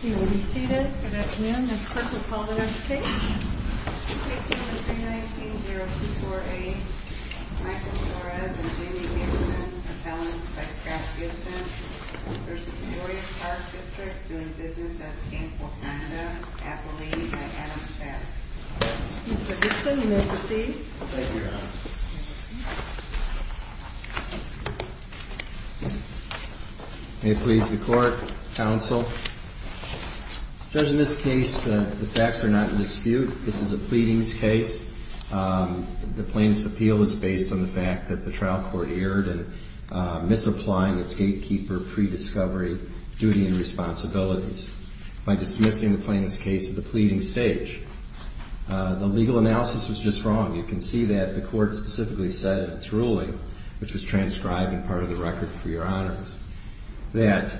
He will be seated. Good afternoon. Mr. Clerk, will you call the next case? Case number 319-0248 Michael Torres and Jamie Gibson, propellants by Scott Gibson v. Peoria Park District, doing business as Camp Wakanda, Appalachia, Adamstown Mr. Gibson, you may proceed. Thank you. May it please the Court, Counsel. Judge, in this case, the facts are not in dispute. This is a pleadings case. The plaintiff's appeal was based on the fact that the trial court erred in misapplying its gatekeeper, pre-discovery duty and responsibilities by dismissing the plaintiff's case at the pleading stage. The legal analysis was just wrong. You can see that the Court specifically said in its ruling, which was transcribed and part of the record for your honors, that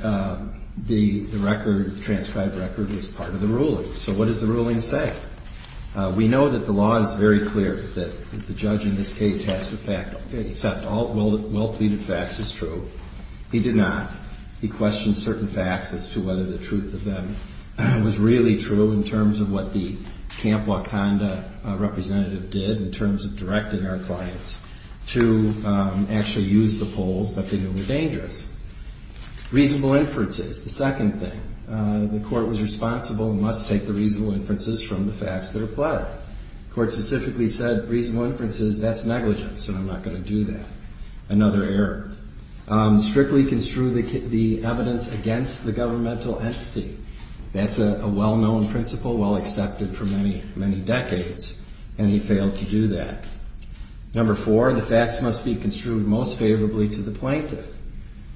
the transcribed record was part of the ruling. So what does the ruling say? We know that the law is very clear that the judge in this case has to accept all well-pleaded facts as true. He did not. He questioned certain facts as to whether the truth of them was really true in terms of what the Camp Wakanda representative did in terms of directing our clients to actually use the polls that they knew were dangerous. Reasonable inferences, the second thing. The Court was responsible and must take the reasonable inferences from the facts that are pled. The Court specifically said, reasonable inferences, that's negligence and I'm not going to do that. Another error. Strictly construe the evidence against the governmental entity. That's a well-known principle, well-accepted for many, many decades, and he failed to do that. Number four, the facts must be construed most favorably to the plaintiff.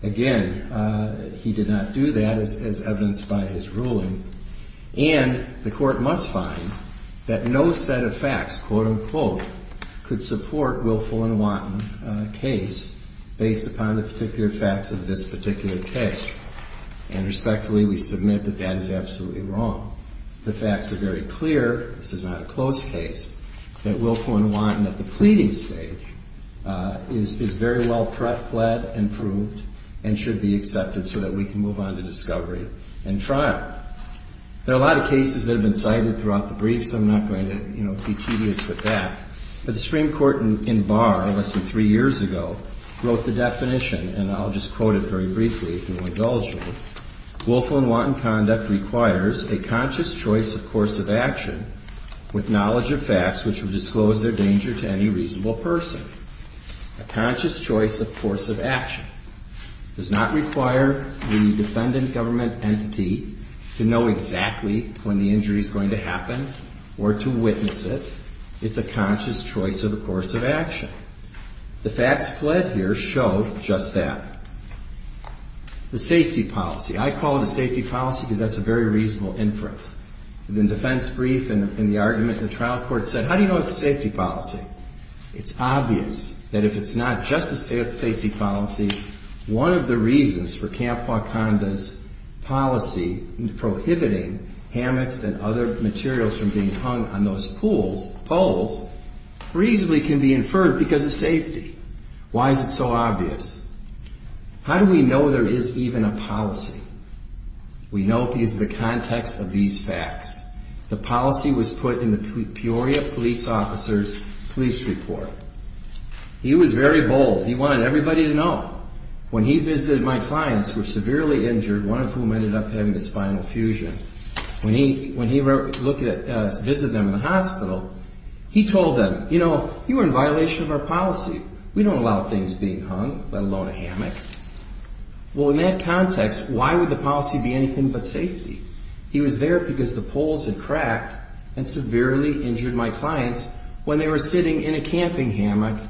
Again, he did not do that as evidenced by his ruling. And the Court must find that no set of facts, quote unquote, could support willful and wanton case based upon the particular facts of this particular case. And respectfully, we submit that that is absolutely wrong. The facts are very clear. This is not a close case. That willful and wanton at the pleading stage is very well pled and proved and should be accepted so that we can move on to discovery and trial. There are a lot of cases that have been cited throughout the brief, so I'm not going to, you know, be tedious with that. But the Supreme Court in Barr less than three years ago wrote the definition, and I'll just quote it very briefly, if you'll indulge me. Willful and wanton conduct requires a conscious choice of course of action with knowledge of facts which will disclose their danger to any reasonable person. A conscious choice of course of action does not require the defendant government entity to know exactly when the injury is going to happen or to witness it. It's a conscious choice of a course of action. The facts pled here show just that. The safety policy. I call it a safety policy because that's a very reasonable inference. In the defense brief and the argument in the trial court said, how do you know it's a safety policy? It's obvious that if it's not just a safety policy, one of the reasons for Camp Wakanda's policy in prohibiting hammocks and other materials from being hung on those pools, poles, reasonably can be inferred because of safety. Why is it so obvious? How do we know there is even a policy? We know because of the context of these facts. The policy was put in the Peoria police officer's police report. He was very bold. He wanted everybody to know. When he visited my clients who were severely injured, one of whom ended up having a spinal fusion, when he visited them in the hospital, he told them, you know, you are in violation of our policy. We don't allow things being hung, let alone a hammock. Well, in that context, why would the policy be anything but safety? He was there because the poles had cracked and severely injured my clients when they were sitting in a camping hammock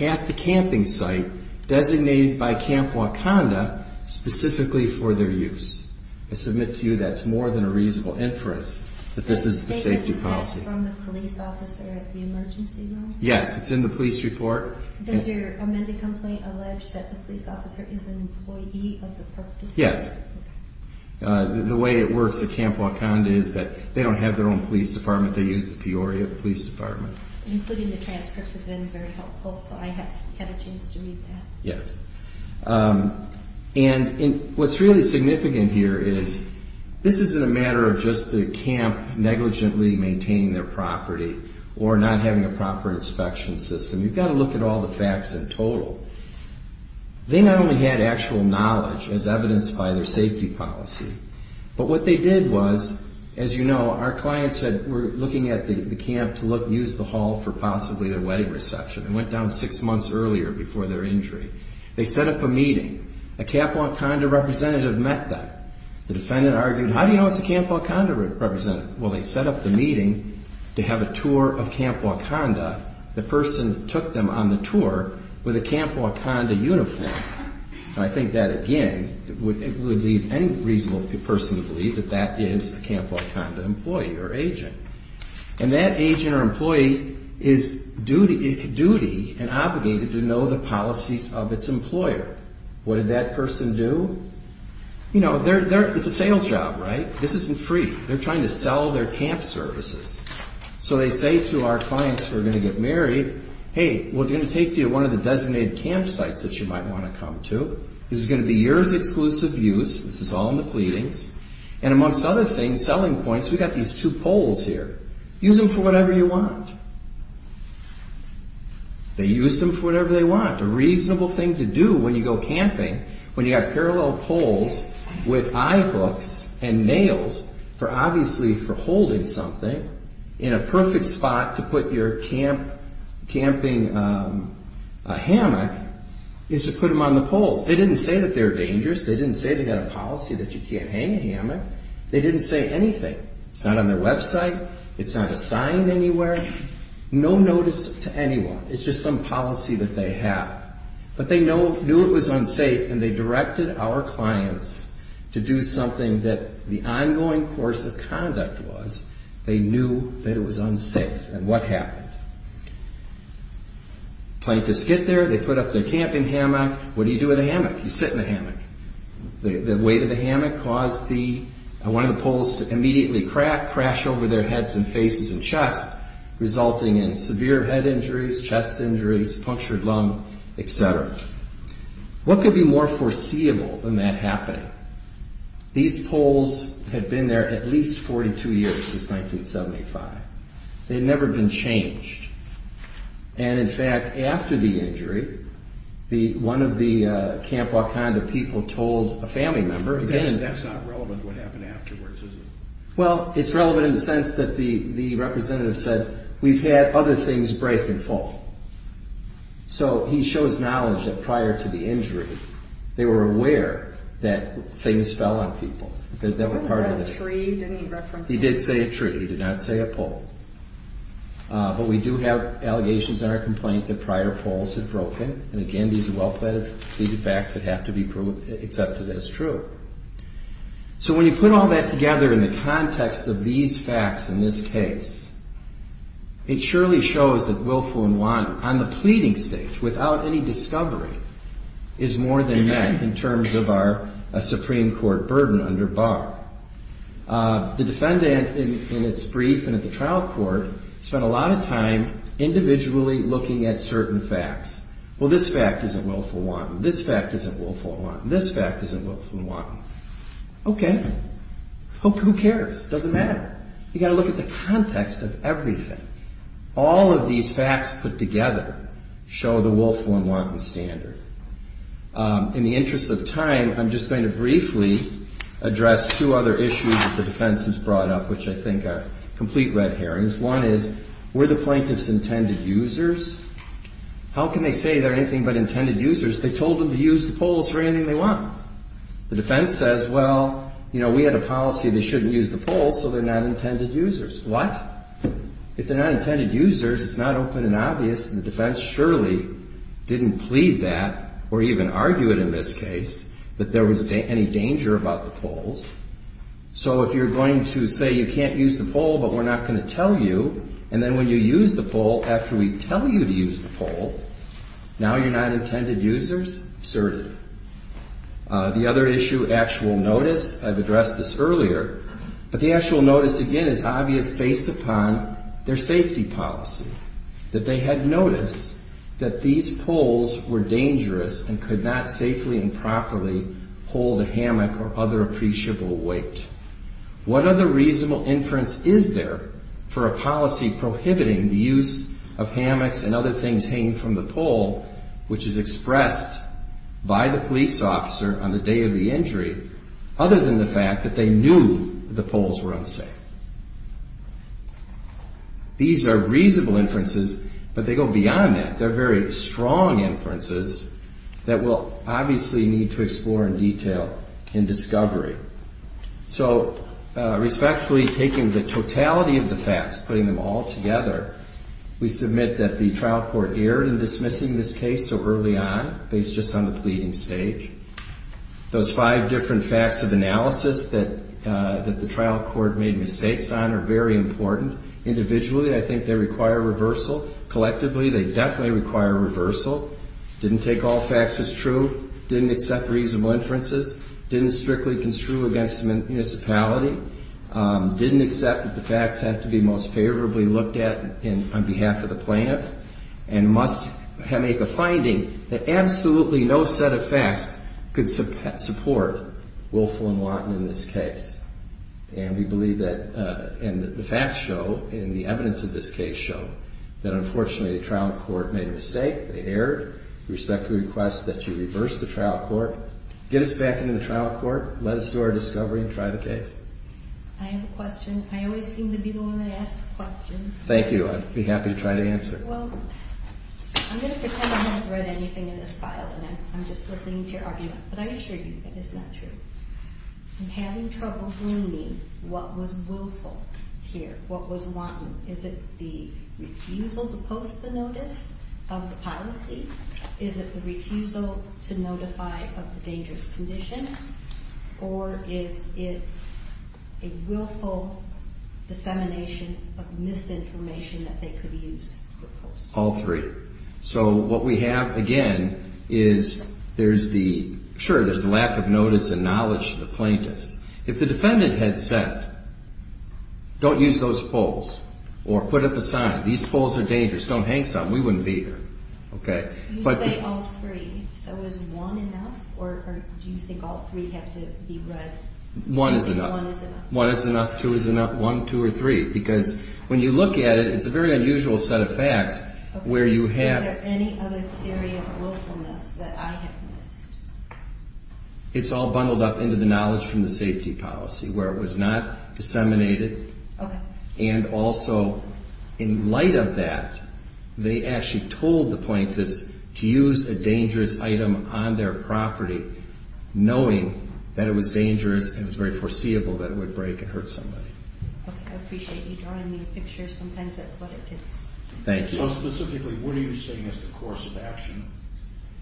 at the camping site designated by Camp Wakanda specifically for their use. I submit to you that's more than a reasonable inference that this is a safety policy. Is that from the police officer at the emergency room? Yes. It's in the police report. Does your amended complaint allege that the police officer is an employee of the park district? Yes. Okay. The way it works at Camp Wakanda is that they don't have their own police department. They use the Peoria police department. Including the transcript has been very helpful, so I have had a chance to read that. Yes. And what's really significant here is this isn't a matter of just the camp negligently maintaining their property or not having a proper inspection system. You've got to look at all the facts in total. They not only had actual knowledge as evidenced by their safety policy, but what they did was, as you know, our clients were looking at the camp to use the hall for possibly their wedding reception. They went down six months earlier before their injury. They set up a meeting. A Camp Wakanda representative met them. The defendant argued, how do you know it's a Camp Wakanda representative? Well, they set up the meeting to have a tour of Camp Wakanda. The person took them on the tour with a Camp Wakanda uniform. And I think that, again, would leave any reasonable person to believe that that is a Camp Wakanda employee or agent. And that agent or employee is duty and obligated to know the policies of its employer. What did that person do? You know, it's a sales job, right? This isn't free. They're trying to sell their camp services. So they say to our clients who are going to get married, hey, we're going to take you to one of the designated campsites that you might want to come to. This is going to be yours exclusive use. This is all in the pleadings. And amongst other things, selling points, we've got these two poles here. Use them for whatever you want. They used them for whatever they want, a reasonable thing to do when you go camping when you've got parallel poles with eye hooks and nails, obviously for holding something in a perfect spot to put your camping hammock, is to put them on the poles. They didn't say that they were dangerous. They didn't say they had a policy that you can't hang a hammock. They didn't say anything. It's not on their website. It's not assigned anywhere. No notice to anyone. It's just some policy that they have. But they knew it was unsafe, and they directed our clients to do something that the ongoing course of conduct was. They knew that it was unsafe. And what happened? Plaintiffs get there. They put up their camping hammock. What do you do with a hammock? You sit in a hammock. The weight of the hammock caused one of the poles to immediately crack, crash over their heads and faces and chest, resulting in severe head injuries, chest injuries, punctured lung, et cetera. What could be more foreseeable than that happening? These poles had been there at least 42 years, since 1975. They had never been changed. And, in fact, after the injury, one of the Camp Wakanda people told a family member. That's not relevant to what happened afterwards, is it? Well, it's relevant in the sense that the representative said, we've had other things break and fall. So he shows knowledge that prior to the injury, they were aware that things fell on people that were part of the tree. He did say a tree. He did not say a pole. But we do have allegations in our complaint that prior poles had broken. And, again, these are well-plated facts that have to be accepted as true. So when you put all that together in the context of these facts in this case, it surely shows that willful and wanton, on the pleading stage, without any discovery, is more than met in terms of our Supreme Court burden under bar. The defendant, in its brief and at the trial court, spent a lot of time individually looking at certain facts. Well, this fact isn't willful and wanton. This fact isn't willful and wanton. This fact isn't willful and wanton. Okay. Who cares? It doesn't matter. You've got to look at the context of everything. All of these facts put together show the willful and wanton standard. In the interest of time, I'm just going to briefly address two other issues that the defense has brought up, which I think are complete red herrings. One is, were the plaintiffs intended users? How can they say they're anything but intended users? They told them to use the polls for anything they want. The defense says, well, you know, we had a policy they shouldn't use the polls, so they're not intended users. What? If they're not intended users, it's not open and obvious, and the defense surely didn't plead that or even argue it in this case, that there was any danger about the polls. So if you're going to say you can't use the poll but we're not going to tell you, and then when you use the poll, after we tell you to use the poll, now you're not intended users? Absurd. The other issue, actual notice, I've addressed this earlier, but the actual notice, again, is obvious based upon their safety policy, that they had noticed that these polls were dangerous and could not safely and properly hold a hammock or other appreciable weight. What other reasonable inference is there for a policy prohibiting the use of hammocks and other things hanging from the poll, which is expressed by the police officer on the day of the injury, other than the fact that they knew the polls were unsafe? These are reasonable inferences, but they go beyond that. They're very strong inferences that we'll obviously need to explore in detail in discovery. So respectfully taking the totality of the facts, putting them all together, we submit that the trial court erred in dismissing this case so early on, based just on the pleading stage. Those five different facts of analysis that the trial court made mistakes on are very important. Individually, I think they require reversal. Collectively, they definitely require reversal. Didn't take all facts as true. Didn't accept reasonable inferences. Didn't strictly construe against the municipality. Didn't accept that the facts had to be most favorably looked at on behalf of the plaintiff and must make a finding that absolutely no set of facts could support Woelfel and Watten in this case. And we believe that the facts show, and the evidence of this case show, that unfortunately the trial court made a mistake. They erred. We respectfully request that you reverse the trial court. Get us back into the trial court. Let us do our discovery and try the case. I have a question. I always seem to be the one that asks questions. Thank you. I'd be happy to try to answer. Well, I'm going to pretend I haven't read anything in this file, and I'm just listening to your argument. But I assure you that it's not true. I'm having trouble believing what was Woelfel here, what was Watten. Is it the refusal to post the notice of the policy? Is it the refusal to notify of the dangerous condition? Or is it a Woelfel dissemination of misinformation that they could use? All three. So what we have, again, is there's the lack of notice and knowledge to the plaintiffs. If the defendant had said, don't use those poles or put up a sign, these poles are dangerous, don't hang some, we wouldn't be here. You say all three. So is one enough, or do you think all three have to be read? One is enough. One is enough. One is enough. Two is enough. One, two, or three. Because when you look at it, it's a very unusual set of facts where you have- Is there any other theory of Woelfel-ness that I have missed? It's all bundled up into the knowledge from the safety policy where it was not disseminated. Okay. And also, in light of that, they actually told the plaintiffs to use a dangerous item on their property, knowing that it was dangerous and it was very foreseeable that it would break and hurt somebody. Okay. I appreciate you drawing the picture. Sometimes that's what it did. Thank you. So specifically, what are you saying is the course of action?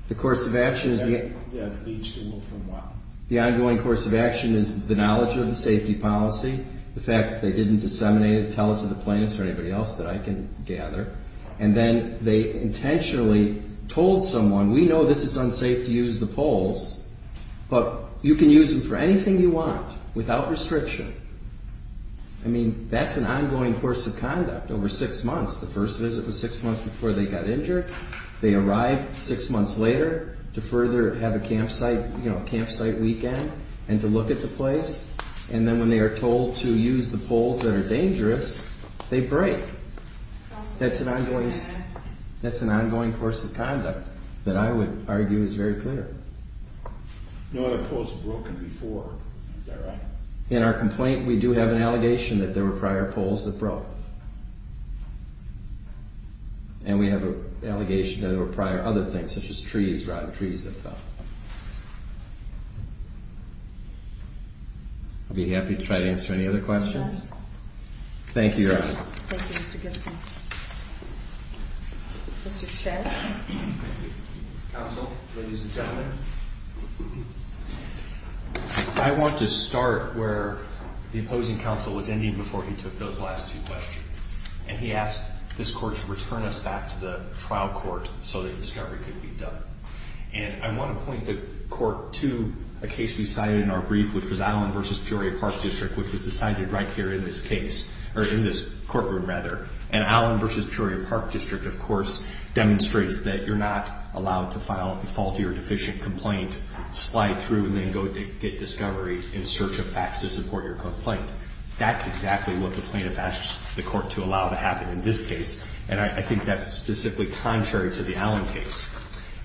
The course of action is- That leads to what? The ongoing course of action is the knowledge of the safety policy, the fact that they didn't disseminate it, tell it to the plaintiffs or anybody else that I can gather, and then they intentionally told someone, we know this is unsafe to use the poles, but you can use them for anything you want without restriction. I mean, that's an ongoing course of conduct over six months. The first visit was six months before they got injured. They arrived six months later to further have a campsite weekend and to look at the place. And then when they are told to use the poles that are dangerous, they break. That's an ongoing course of conduct that I would argue is very clear. No other poles have broken before, is that right? In our complaint, we do have an allegation that there were prior poles that broke. And we have an allegation that there were prior other things, such as trees, rotten trees that fell. I'll be happy to try to answer any other questions. Thank you, Your Honor. Thank you, Mr. Gibson. Mr. Chair? Counsel, ladies and gentlemen, I want to start where the opposing counsel was ending before he took those last two questions. And he asked this Court to return us back to the trial court so that discovery could be done. And I want to point the Court to a case we cited in our brief, which was Allen v. Peoria Park District, which was decided right here in this case, or in this courtroom, rather. And Allen v. Peoria Park District, of course, demonstrates that you're not allowed to file a faulty or deficient complaint, slide through, and then go get discovery in search of facts to support your complaint. That's exactly what the plaintiff asked the Court to allow to happen in this case. And I think that's specifically contrary to the Allen case.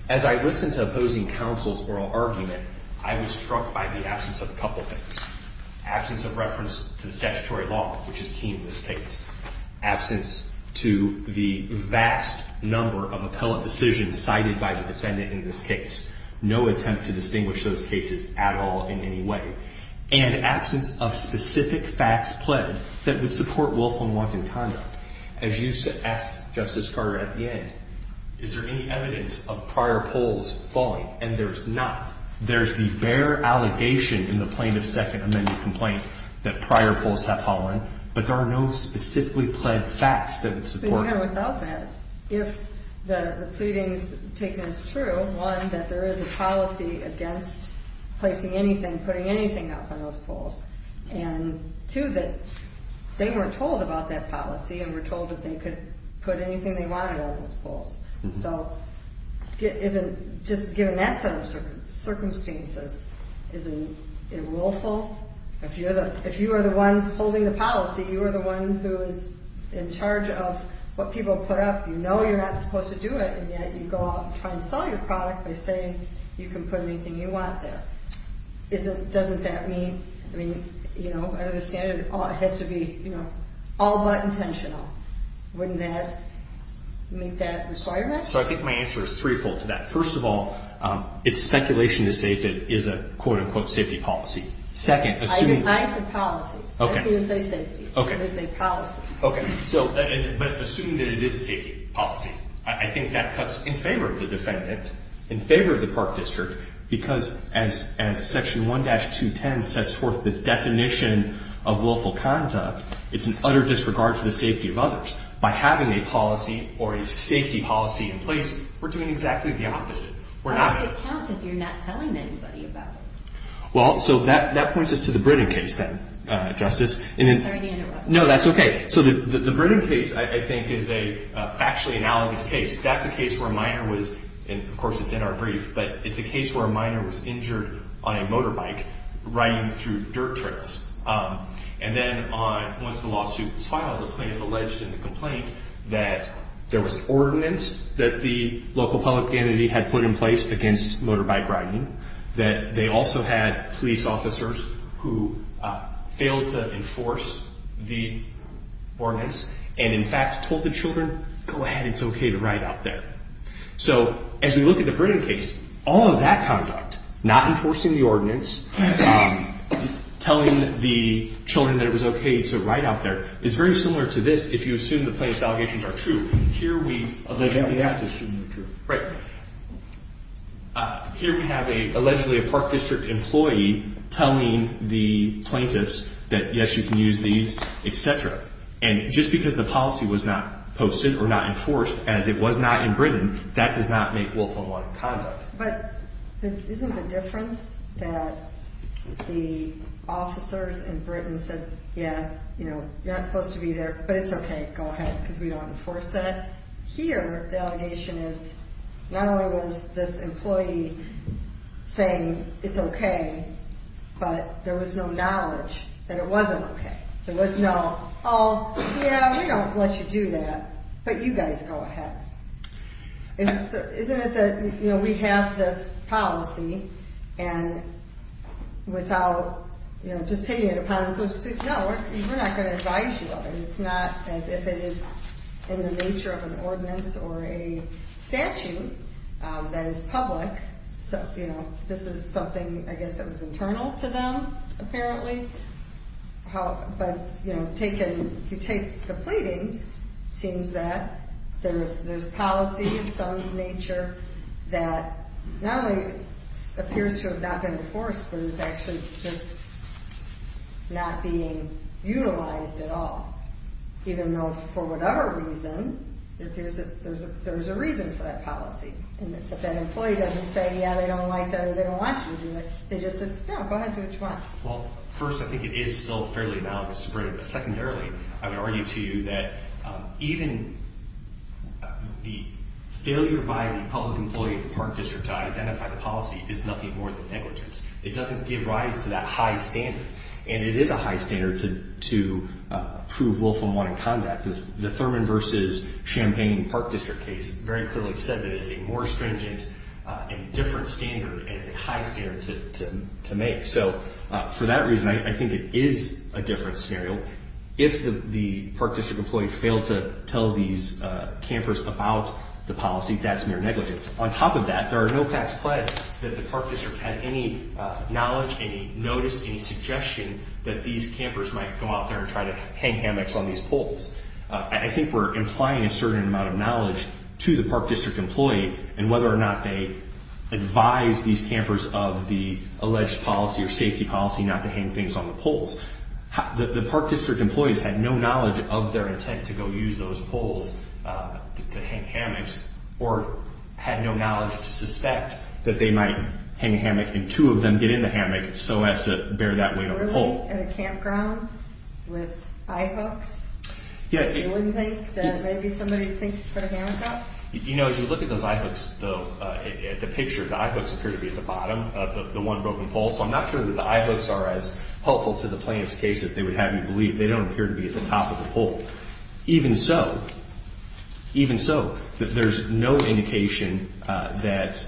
As I listened to opposing counsel's oral argument, I was struck by the absence of a couple things. Absence of reference to the statutory law, which is key in this case. Absence to the vast number of appellate decisions cited by the defendant in this case. No attempt to distinguish those cases at all in any way. And absence of specific facts pled that would support willful and wanton conduct. As you asked Justice Carter at the end, is there any evidence of prior polls falling? And there's not. There's the bare allegation in the plaintiff's second amended complaint that prior polls have fallen, but there are no specifically pled facts that would support that. Without that, if the pleadings taken as true, one, that there is a policy against placing anything, putting anything up on those polls, and two, that they weren't told about that policy and were told that they could put anything they wanted on those polls. So just given that set of circumstances, isn't it willful? If you are the one holding the policy, you are the one who is in charge of what people put up. You know you're not supposed to do it, and yet you go out and try to sell your product by saying you can put anything you want there. Doesn't that mean, I mean, you know, I understand it has to be, you know, all but intentional. Wouldn't that make that reasonable? So I think my answer is threefold to that. First of all, it's speculation to say if it is a quote-unquote safety policy. Second, assuming. I didn't say policy. Okay. I didn't say safety. Okay. I didn't say policy. Okay. So but assuming that it is a safety policy, I think that cuts in favor of the defendant, in favor of the park district, because as Section 1-210 sets forth the definition of willful conduct, it's an utter disregard for the safety of others. By having a policy or a safety policy in place, we're doing exactly the opposite. Why does it count if you're not telling anybody about it? Well, so that points us to the Britten case then, Justice. Sorry to interrupt. No, that's okay. So the Britten case, I think, is a factually analogous case. That's a case where a minor was, and of course it's in our brief, but it's a case where a minor was injured on a motorbike riding through dirt trails. And then once the lawsuit was filed, the plaintiff alleged in the complaint that there was an ordinance that the local public entity had put in place against motorbike riding, that they also had police officers who failed to enforce the ordinance, and in fact told the children, go ahead, it's okay to ride out there. So as we look at the Britten case, all of that conduct, not enforcing the ordinance, telling the children that it was okay to ride out there, is very similar to this if you assume the plaintiff's allegations are true. Here we allegedly have to assume they're true. Right. Here we have allegedly a Park District employee telling the plaintiffs that, yes, you can use these, et cetera. And just because the policy was not posted or not enforced as it was not in Britten, that does not make willful unwanted conduct. But isn't the difference that the officers in Britten said, yeah, you're not supposed to be there, but it's okay, go ahead, because we don't enforce that. But here the allegation is not only was this employee saying it's okay, but there was no knowledge that it wasn't okay. There was no, oh, yeah, we don't let you do that, but you guys go ahead. Isn't it that, you know, we have this policy, and without, you know, just taking it upon themselves to say, no, we're not going to advise you of it. It's not as if it is in the nature of an ordinance or a statute that is public. So, you know, this is something, I guess, that was internal to them, apparently. But, you know, if you take the pleadings, it seems that there's policy of some nature that not only appears to have not been enforced, but it's actually just not being utilized at all, even though for whatever reason, it appears that there's a reason for that policy. And if that employee doesn't say, yeah, they don't like that or they don't want you to do it, they just said, no, go ahead, do it tomorrow. Well, first, I think it is still fairly valid in Britten. But secondarily, I would argue to you that even the failure by the public employee of the Park District to identify the policy is nothing more than negligence. It doesn't give rise to that high standard. And it is a high standard to prove willful unwanted conduct. The Thurman v. Champaign Park District case very clearly said that it's a more stringent and different standard and it's a high standard to make. So for that reason, I think it is a different scenario. If the Park District employee failed to tell these campers about the policy, that's mere negligence. On top of that, there are no facts pledged that the Park District had any knowledge, any notice, any suggestion that these campers might go out there and try to hang hammocks on these poles. I think we're implying a certain amount of knowledge to the Park District employee and whether or not they advised these campers of the alleged policy or safety policy not to hang things on the poles. The Park District employees had no knowledge of their intent to go use those poles to hang hammocks or had no knowledge to suspect that they might hang a hammock and two of them get in the hammock so as to bear that weight on the pole. Really? In a campground? With eye hooks? Yeah. You wouldn't think that maybe somebody would think to put a hammock up? You know, as you look at those eye hooks, the picture, the eye hooks appear to be at the bottom of the one broken pole, so I'm not sure that the eye hooks are as helpful to the plaintiff's case as they would have you believe. They don't appear to be at the top of the pole. Even so, even so, there's no indication that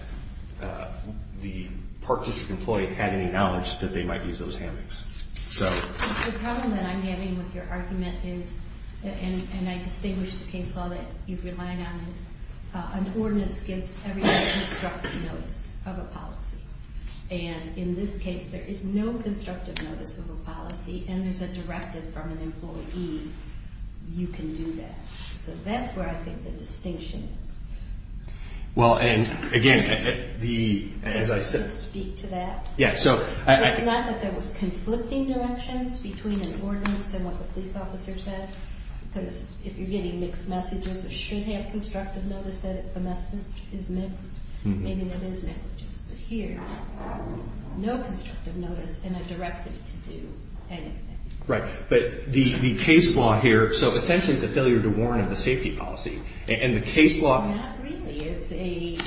the Park District employee had any knowledge that they might use those hammocks. The problem that I'm having with your argument is, and I distinguish the case law that you've relied on, is an ordinance gives everybody constructive notice of a policy. And in this case, there is no constructive notice of a policy and there's a directive from an employee, you can do that. So that's where I think the distinction is. Well, and again, as I said... Can I just speak to that? Yeah, so... It's not that there was conflicting directions between an ordinance and what the police officer said, because if you're getting mixed messages, it should have constructive notice that the message is mixed. Maybe there is negligence, but here, no constructive notice and a directive to do anything. Right, but the case law here, so essentially it's a failure to warn of the safety policy, and the case law... It's a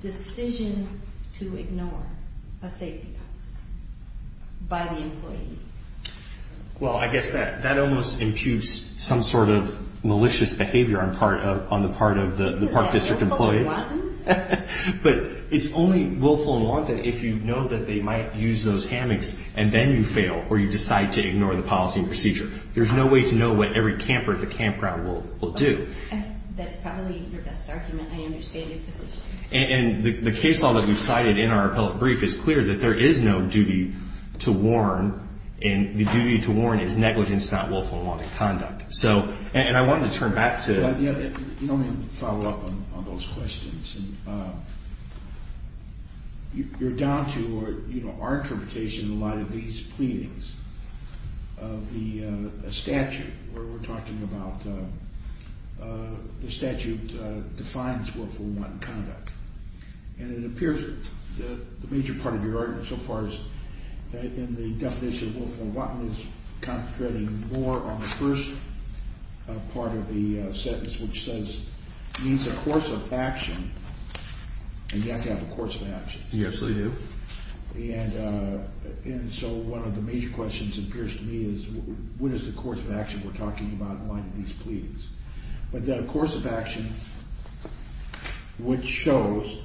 decision to ignore a safety policy by the employee. Well, I guess that almost imputes some sort of malicious behavior on the part of the Park District employee. Willful and wanton. But it's only willful and wanton if you know that they might use those hammocks, and then you fail or you decide to ignore the policy and procedure. There's no way to know what every camper at the campground will do. That's probably your best argument. I understand your position. And the case law that we cited in our appellate brief is clear that there is no duty to warn, and the duty to warn is negligence, not willful and wanton conduct. And I wanted to turn back to... Let me follow up on those questions. You're down to our interpretation in light of these pleadings of the statute where we're talking about the statute defines willful and wanton conduct. And it appears that the major part of your argument so far has been the definition of willful and wanton I was concentrating more on the first part of the sentence, which means a course of action, and you have to have a course of action. Yes, we do. And so one of the major questions appears to me is what is the course of action we're talking about in light of these pleadings? But then a course of action which shows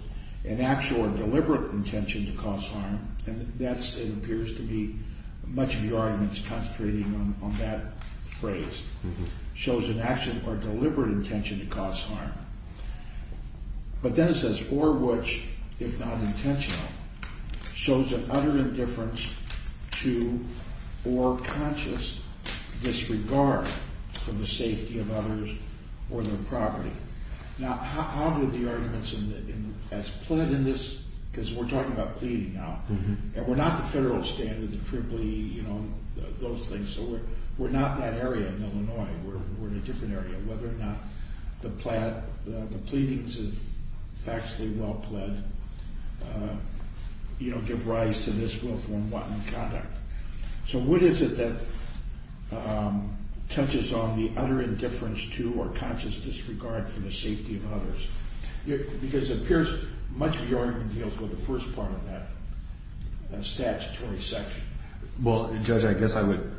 an actual or deliberate intention to cause harm, and that appears to be much of your argument is concentrating on that phrase, shows an actual or deliberate intention to cause harm. But then it says, or which, if not intentional, shows an utter indifference to or conscious disregard for the safety of others or their property. Now, how do the arguments as pled in this, because we're talking about pleading now, and we're not the federal standard, the EEE, those things, so we're not that area in Illinois. We're in a different area, whether or not the pleadings of factually well pled give rise to this willful and wanton conduct. So what is it that touches on the utter indifference to or conscious disregard for the safety of others? Because it appears much of your argument deals with the first part of that statutory section. Well, Judge, I guess I would...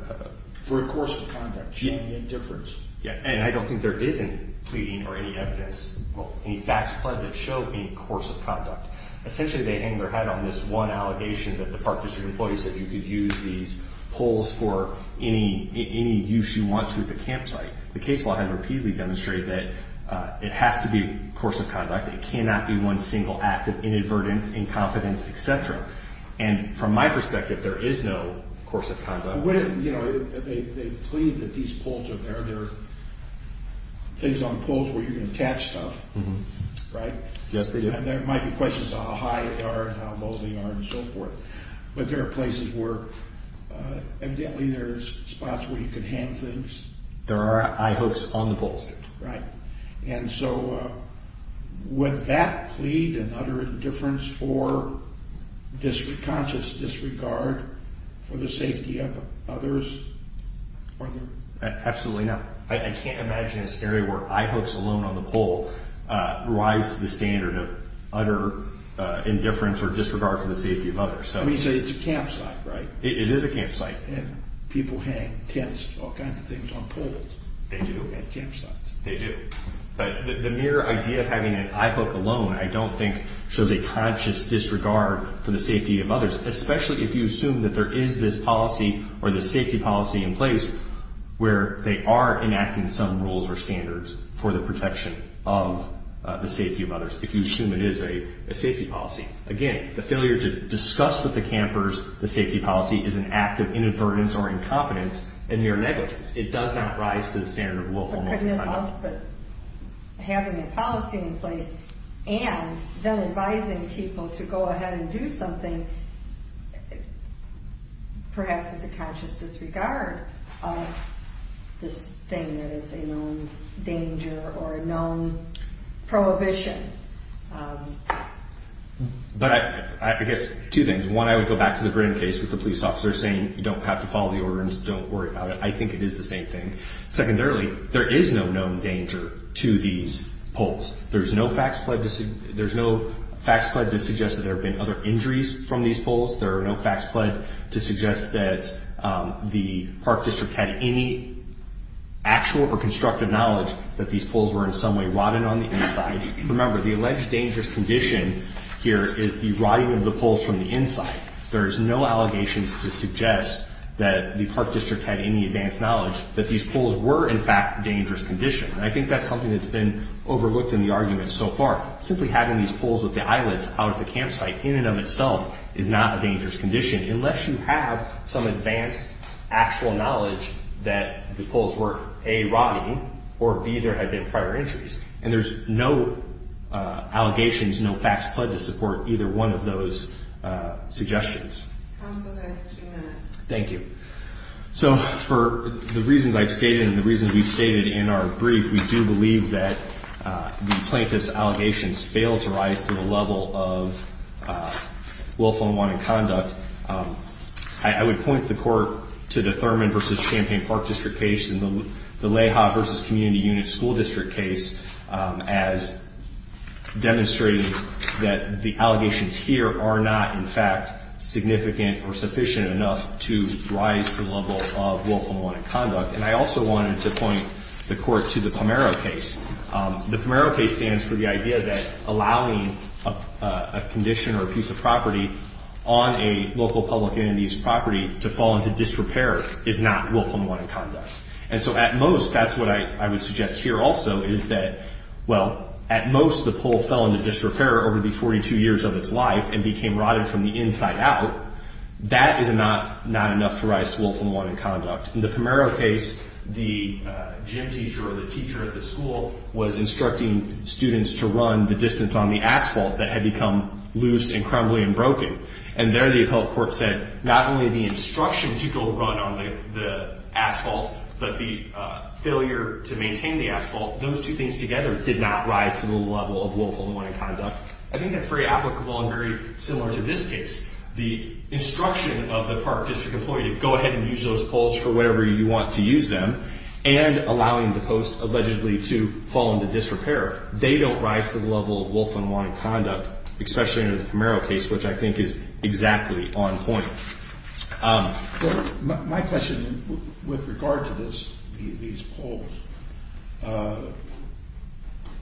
For a course of conduct, she had the indifference. Yeah, and I don't think there is any pleading or any evidence, any facts pled that show a course of conduct. Essentially, they hang their head on this one allegation that the Park District employee said you could use these poles for any use you want to at the campsite. The case law has repeatedly demonstrated that it has to be a course of conduct. It cannot be one single act of inadvertence, incompetence, et cetera. They plead that these poles are there. They're things on poles where you can attach stuff, right? Yes, they do. And there might be questions on how high they are and how low they are and so forth. But there are places where, evidently, there's spots where you can hang things. There are eye hooks on the poles. And so would that plead an utter indifference or conscious disregard for the safety of others? Absolutely not. I can't imagine a scenario where eye hooks alone on the pole rise to the standard of utter indifference or disregard for the safety of others. I mean, so it's a campsite, right? It is a campsite. And people hang tents, all kinds of things on poles. They do. They do. But the mere idea of having an eye hook alone, I don't think, shows a conscious disregard for the safety of others, especially if you assume that there is this policy or this safety policy in place where they are enacting some rules or standards for the protection of the safety of others, if you assume it is a safety policy. Again, the failure to discuss with the campers the safety policy is an act of inadvertence or incompetence and mere negligence. It does not rise to the standard of willful multi-crime. But having a policy in place and then advising people to go ahead and do something, perhaps with a conscious disregard of this thing that is a known danger or a known prohibition. But I guess two things. One, I would go back to the Grin case with the police officer saying you don't have to follow the order and just don't worry about it. I think it is the same thing. Secondarily, there is no known danger to these poles. There's no facts pledged to suggest that there have been other injuries from these poles. There are no facts pledged to suggest that the park district had any actual or constructive knowledge that these poles were in some way rotted on the inside. Remember, the alleged dangerous condition here is the rotting of the poles from the inside. There is no allegations to suggest that the park district had any advanced knowledge that these poles were, in fact, a dangerous condition. And I think that's something that's been overlooked in the argument so far. Simply having these poles with the eyelets out at the campsite in and of itself is not a dangerous condition unless you have some advanced actual knowledge that the poles were, A, rotting or, B, there had been prior injuries. And there's no allegations, no facts pledged to support either one of those suggestions. Counsel has two minutes. Thank you. So for the reasons I've stated and the reasons we've stated in our brief, we do believe that the plaintiff's allegations fail to rise to the level of willful and wanted conduct. I would point the Court to the Thurman v. Champaign Park District case and the Leha v. Community Unit School District case as demonstrating that the allegations here are not, in fact, significant or sufficient enough to rise to the level of willful and wanted conduct. And I also wanted to point the Court to the Pomero case. The Pomero case stands for the idea that allowing a condition or a piece of property on a local public entity's property to fall into disrepair is not willful and wanted conduct. And so at most, that's what I would suggest here also, is that, well, at most the pole fell into disrepair over the 42 years of its life and became rotted from the inside out. That is not enough to rise to willful and wanted conduct. In the Pomero case, the gym teacher or the teacher at the school was instructing students to run the distance on the asphalt that had become loose and crumbly and broken. And there the appellate court said not only the instruction to go run on the asphalt but the failure to maintain the asphalt, those two things together did not rise to the level of willful and wanted conduct. I think that's very applicable and very similar to this case. The instruction of the Park District employee to go ahead and use those poles for whatever you want to use them and allowing the post allegedly to fall into disrepair, they don't rise to the level of willful and wanted conduct, especially in the Pomero case, which I think is exactly on point. My question with regard to these poles,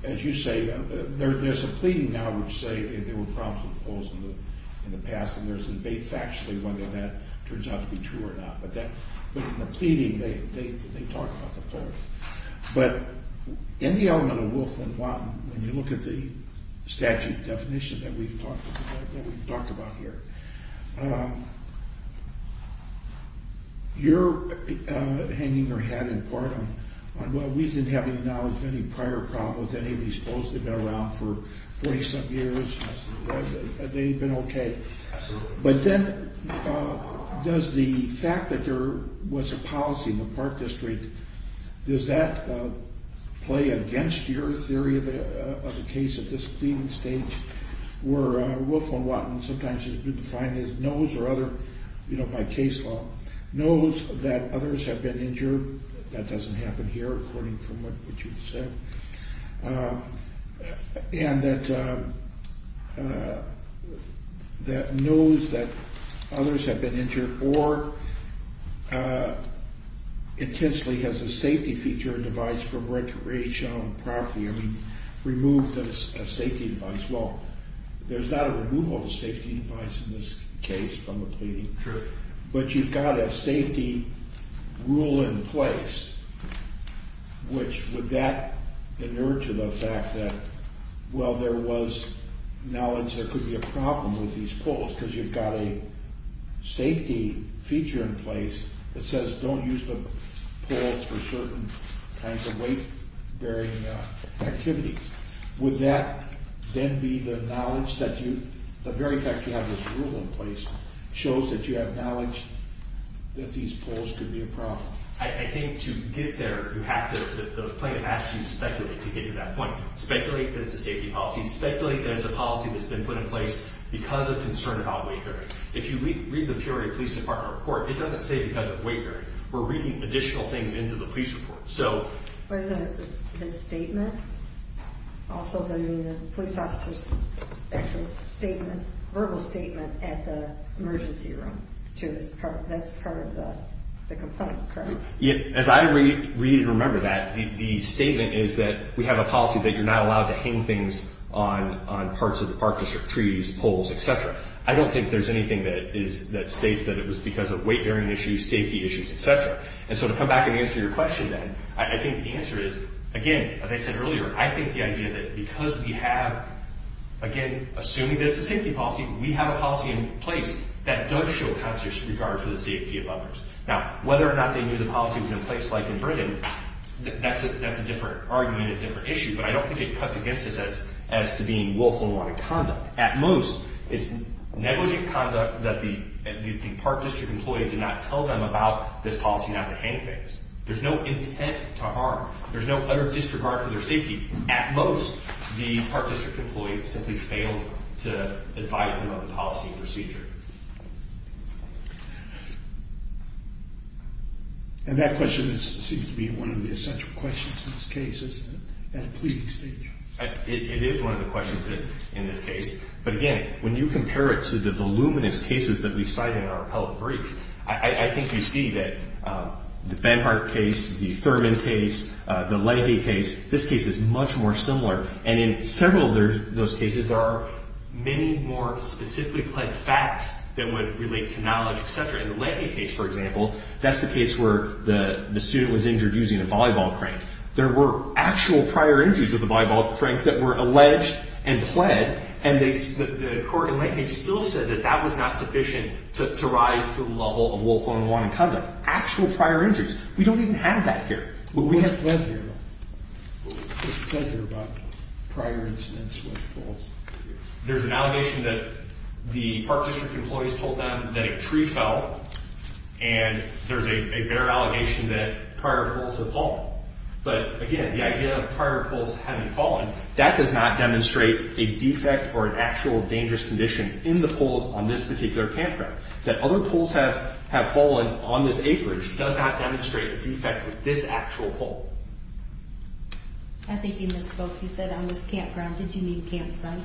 as you say, there's a pleading now which say there were problems with poles in the past and there's debate factually whether that turns out to be true or not, but in the pleading they talk about the poles. But in the element of willful and want, when you look at the statute definition that we've talked about here, you're hanging your hat in part on, well, we didn't have any knowledge of any prior problems with any of these poles. They've been around for 40-some years. They've been okay. But then does the fact that there was a policy in the Park District, does that play against your theory of a case at this pleading stage where willful and want sometimes has been defined as knows or other, you know, by case law, knows that others have been injured. That doesn't happen here, according to what you've said. And that knows that others have been injured or intensely has a safety feature or device from recreational property, I mean, removed a safety device. Well, there's not a removal of a safety device in this case from a pleading, but you've got a safety rule in place, which would that inert to the fact that, well, there was knowledge there could be a problem with these poles because you've got a safety feature in place that says don't use the poles for certain kinds of weight-bearing activities. Would that then be the knowledge that you, the very fact you have this rule in place shows that you have knowledge that these poles could be a problem? I think to get there, you have to, the plaintiff asks you to speculate to get to that point. Speculate that it's a safety policy. Speculate that it's a policy that's been put in place because of concern about weight-bearing. If you read the Peoria Police Department report, it doesn't say because of weight-bearing. We're reading additional things into the police report. But isn't it the statement, also the police officer's actual statement, verbal statement at the emergency room? That's part of the complaint, correct? As I read and remember that, the statement is that we have a policy that you're not allowed to hang things on parts of the park district, trees, poles, etc. I don't think there's anything that states that it was because of weight-bearing issues, safety issues, etc. And so to come back and answer your question then, I think the answer is, again, as I said earlier, I think the idea that because we have, again, assuming that it's a safety policy, we have a policy in place that does show conscious regard for the safety of others. Now, whether or not they knew the policy was in place, like in Britain, that's a different argument, a different issue. But I don't think it cuts against us as to being willful and wanted conduct. At most, it's negligent conduct that the park district employee did not tell them about this policy not to hang things. There's no intent to harm. There's no utter disregard for their safety. At most, the park district employee simply failed to advise them of the policy and procedure. And that question seems to be one of the essential questions in this case, isn't it, at a pleading stage? It is one of the questions in this case. But again, when you compare it to the voluminous cases that we cite in our appellate brief, I think you see that the Banhart case, the Thurman case, the Leahy case, this case is much more similar. And in several of those cases, there are many more specifically-plagued facts that would relate to knowledge, etc. In the Leahy case, for example, that's the case where the student was injured using a volleyball crank. There were actual prior injuries with a volleyball crank that were alleged and pled, and the court in Leahy still said that that was not sufficient to rise to the level of willful and wanted conduct. Actual prior injuries. We don't even have that here. We have pled here, though. We have pled here about prior incidents with balls. There's an allegation that the Park District employees told them that a tree fell, and there's a better allegation that prior poles have fallen. But again, the idea of prior poles having fallen, that does not demonstrate a defect or an actual dangerous condition in the poles on this particular campground. That other poles have fallen on this acreage does not demonstrate a defect with this actual pole. I think you misspoke. You said on this campground. Did you mean campsite?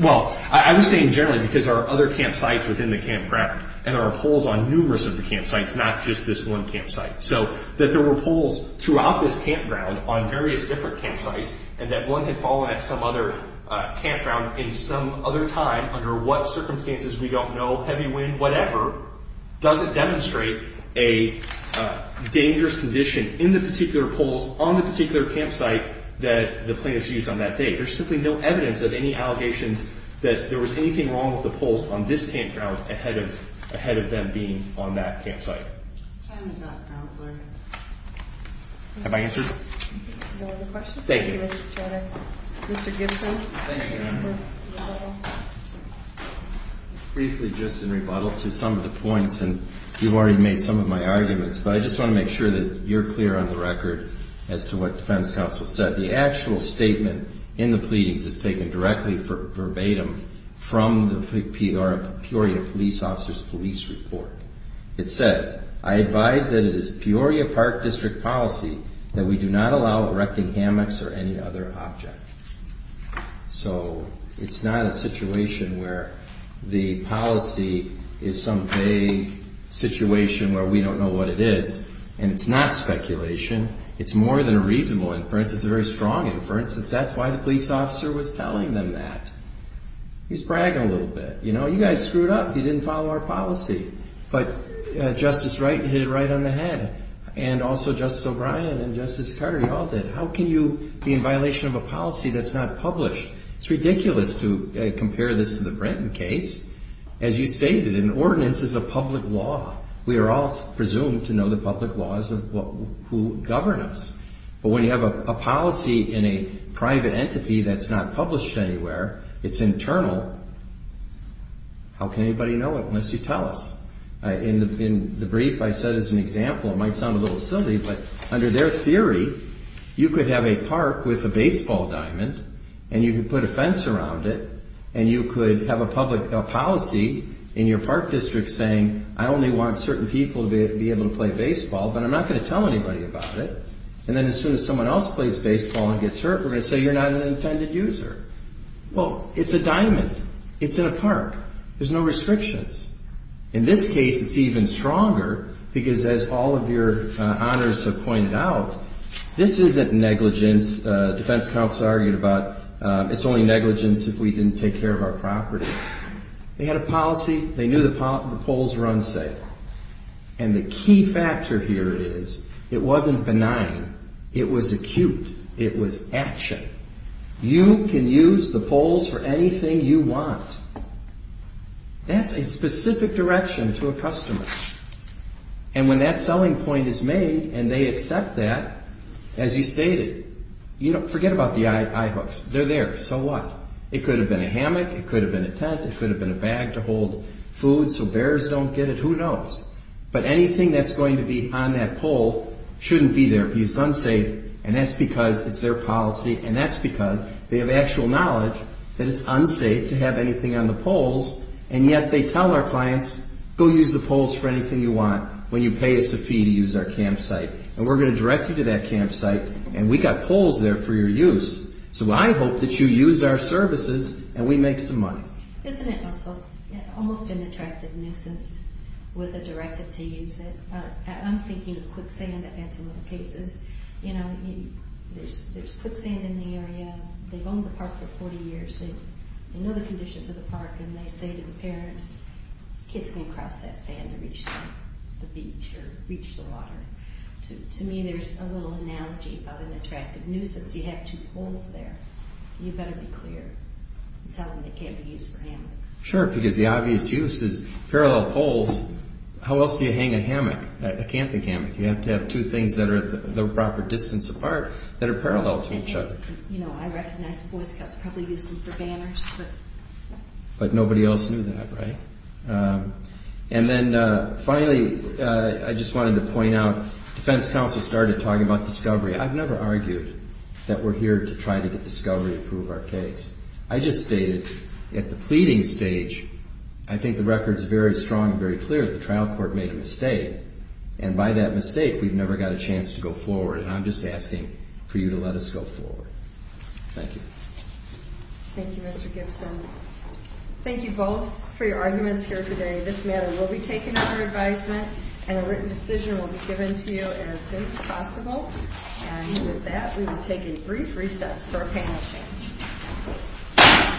Well, I was saying generally because there are other campsites within the campground, and there are poles on numerous other campsites, not just this one campsite. So that there were poles throughout this campground on various different campsites, and that one had fallen at some other campground in some other time under what circumstances, we don't know, heavy wind, whatever, doesn't demonstrate a dangerous condition in the particular poles on the particular campsite that the plaintiffs used on that day. There's simply no evidence of any allegations that there was anything wrong with the poles on this campground ahead of them being on that campsite. Time is up, Counselor. Have I answered? No. Thank you. Mr. Gibson. Thank you. Briefly, just in rebuttal to some of the points, and you've already made some of my arguments, but I just want to make sure that you're clear on the record as to what Defense Counsel said. The actual statement in the pleadings is taken directly verbatim from the Peoria police officer's police report. It says, I advise that it is Peoria Park District policy that we do not allow erecting hammocks or any other object. So it's not a situation where the policy is some vague situation where we don't know what it is, and it's not speculation. It's more than a reasonable inference. It's a very strong inference. That's why the police officer was telling them that. He's bragging a little bit. You know, you guys screwed up. You didn't follow our policy. But Justice Wright hit it right on the head, and also Justice O'Brien and Justice Carter, you all did. How can you be in violation of a policy that's not published? It's ridiculous to compare this to the Brenton case. As you stated, an ordinance is a public law. We are all presumed to know the public laws of who govern us. But when you have a policy in a private entity that's not published anywhere, it's internal, how can anybody know it unless you tell us? In the brief, I said as an example, it might sound a little silly, but under their theory, you could have a park with a baseball diamond, and you could put a fence around it, and you could have a policy in your park district saying, I only want certain people to be able to play baseball, but I'm not going to tell anybody about it. And then as soon as someone else plays baseball and gets hurt, we're going to say you're not an intended user. Well, it's a diamond. It's in a park. There's no restrictions. In this case, it's even stronger because as all of your honors have pointed out, this isn't negligence. Defense counsel argued about it's only negligence if we didn't take care of our property. They had a policy. They knew the polls were unsafe. And the key factor here is it wasn't benign. It was acute. It was action. You can use the polls for anything you want. That's a specific direction to a customer. And when that selling point is made and they accept that, as you stated, forget about the eye hooks. They're there, so what? It could have been a hammock. It could have been a tent. It could have been a bag to hold food so bears don't get it. Who knows? But anything that's going to be on that poll shouldn't be there because it's unsafe, and that's because it's their policy, and that's because they have actual knowledge that it's unsafe to have anything on the polls, and yet they tell our clients, go use the polls for anything you want when you pay us a fee to use our campsite. And we're going to direct you to that campsite, and we've got polls there for your use. So I hope that you use our services and we make some money. Isn't it also almost an attractive nuisance with a directive to use it? I'm thinking of quicksand in some of the cases. There's quicksand in the area. They've owned the park for 40 years. They know the conditions of the park, and they say to the parents, kids can't cross that sand to reach the beach or reach the water. To me, there's a little analogy about an attractive nuisance. You have two poles there. You better be clear and tell them they can't be used for hammocks. Sure, because the obvious use is parallel poles. How else do you hang a hammock, a camping hammock? You have to have two things that are the proper distance apart that are parallel to each other. I recognize the Boy Scouts probably used them for banners. But nobody else knew that, right? And then finally, I just wanted to point out, defense counsel started talking about discovery. I've never argued that we're here to try to get discovery to prove our case. I just stated at the pleading stage, I think the record's very strong and very clear that the trial court made a mistake. And by that mistake, we've never got a chance to go forward. And I'm just asking for you to let us go forward. Thank you. Thank you, Mr. Gibson. Thank you both for your arguments here today. This matter will be taken under advisement, and a written decision will be given to you as soon as possible. And with that, we will take a brief recess for a panel change.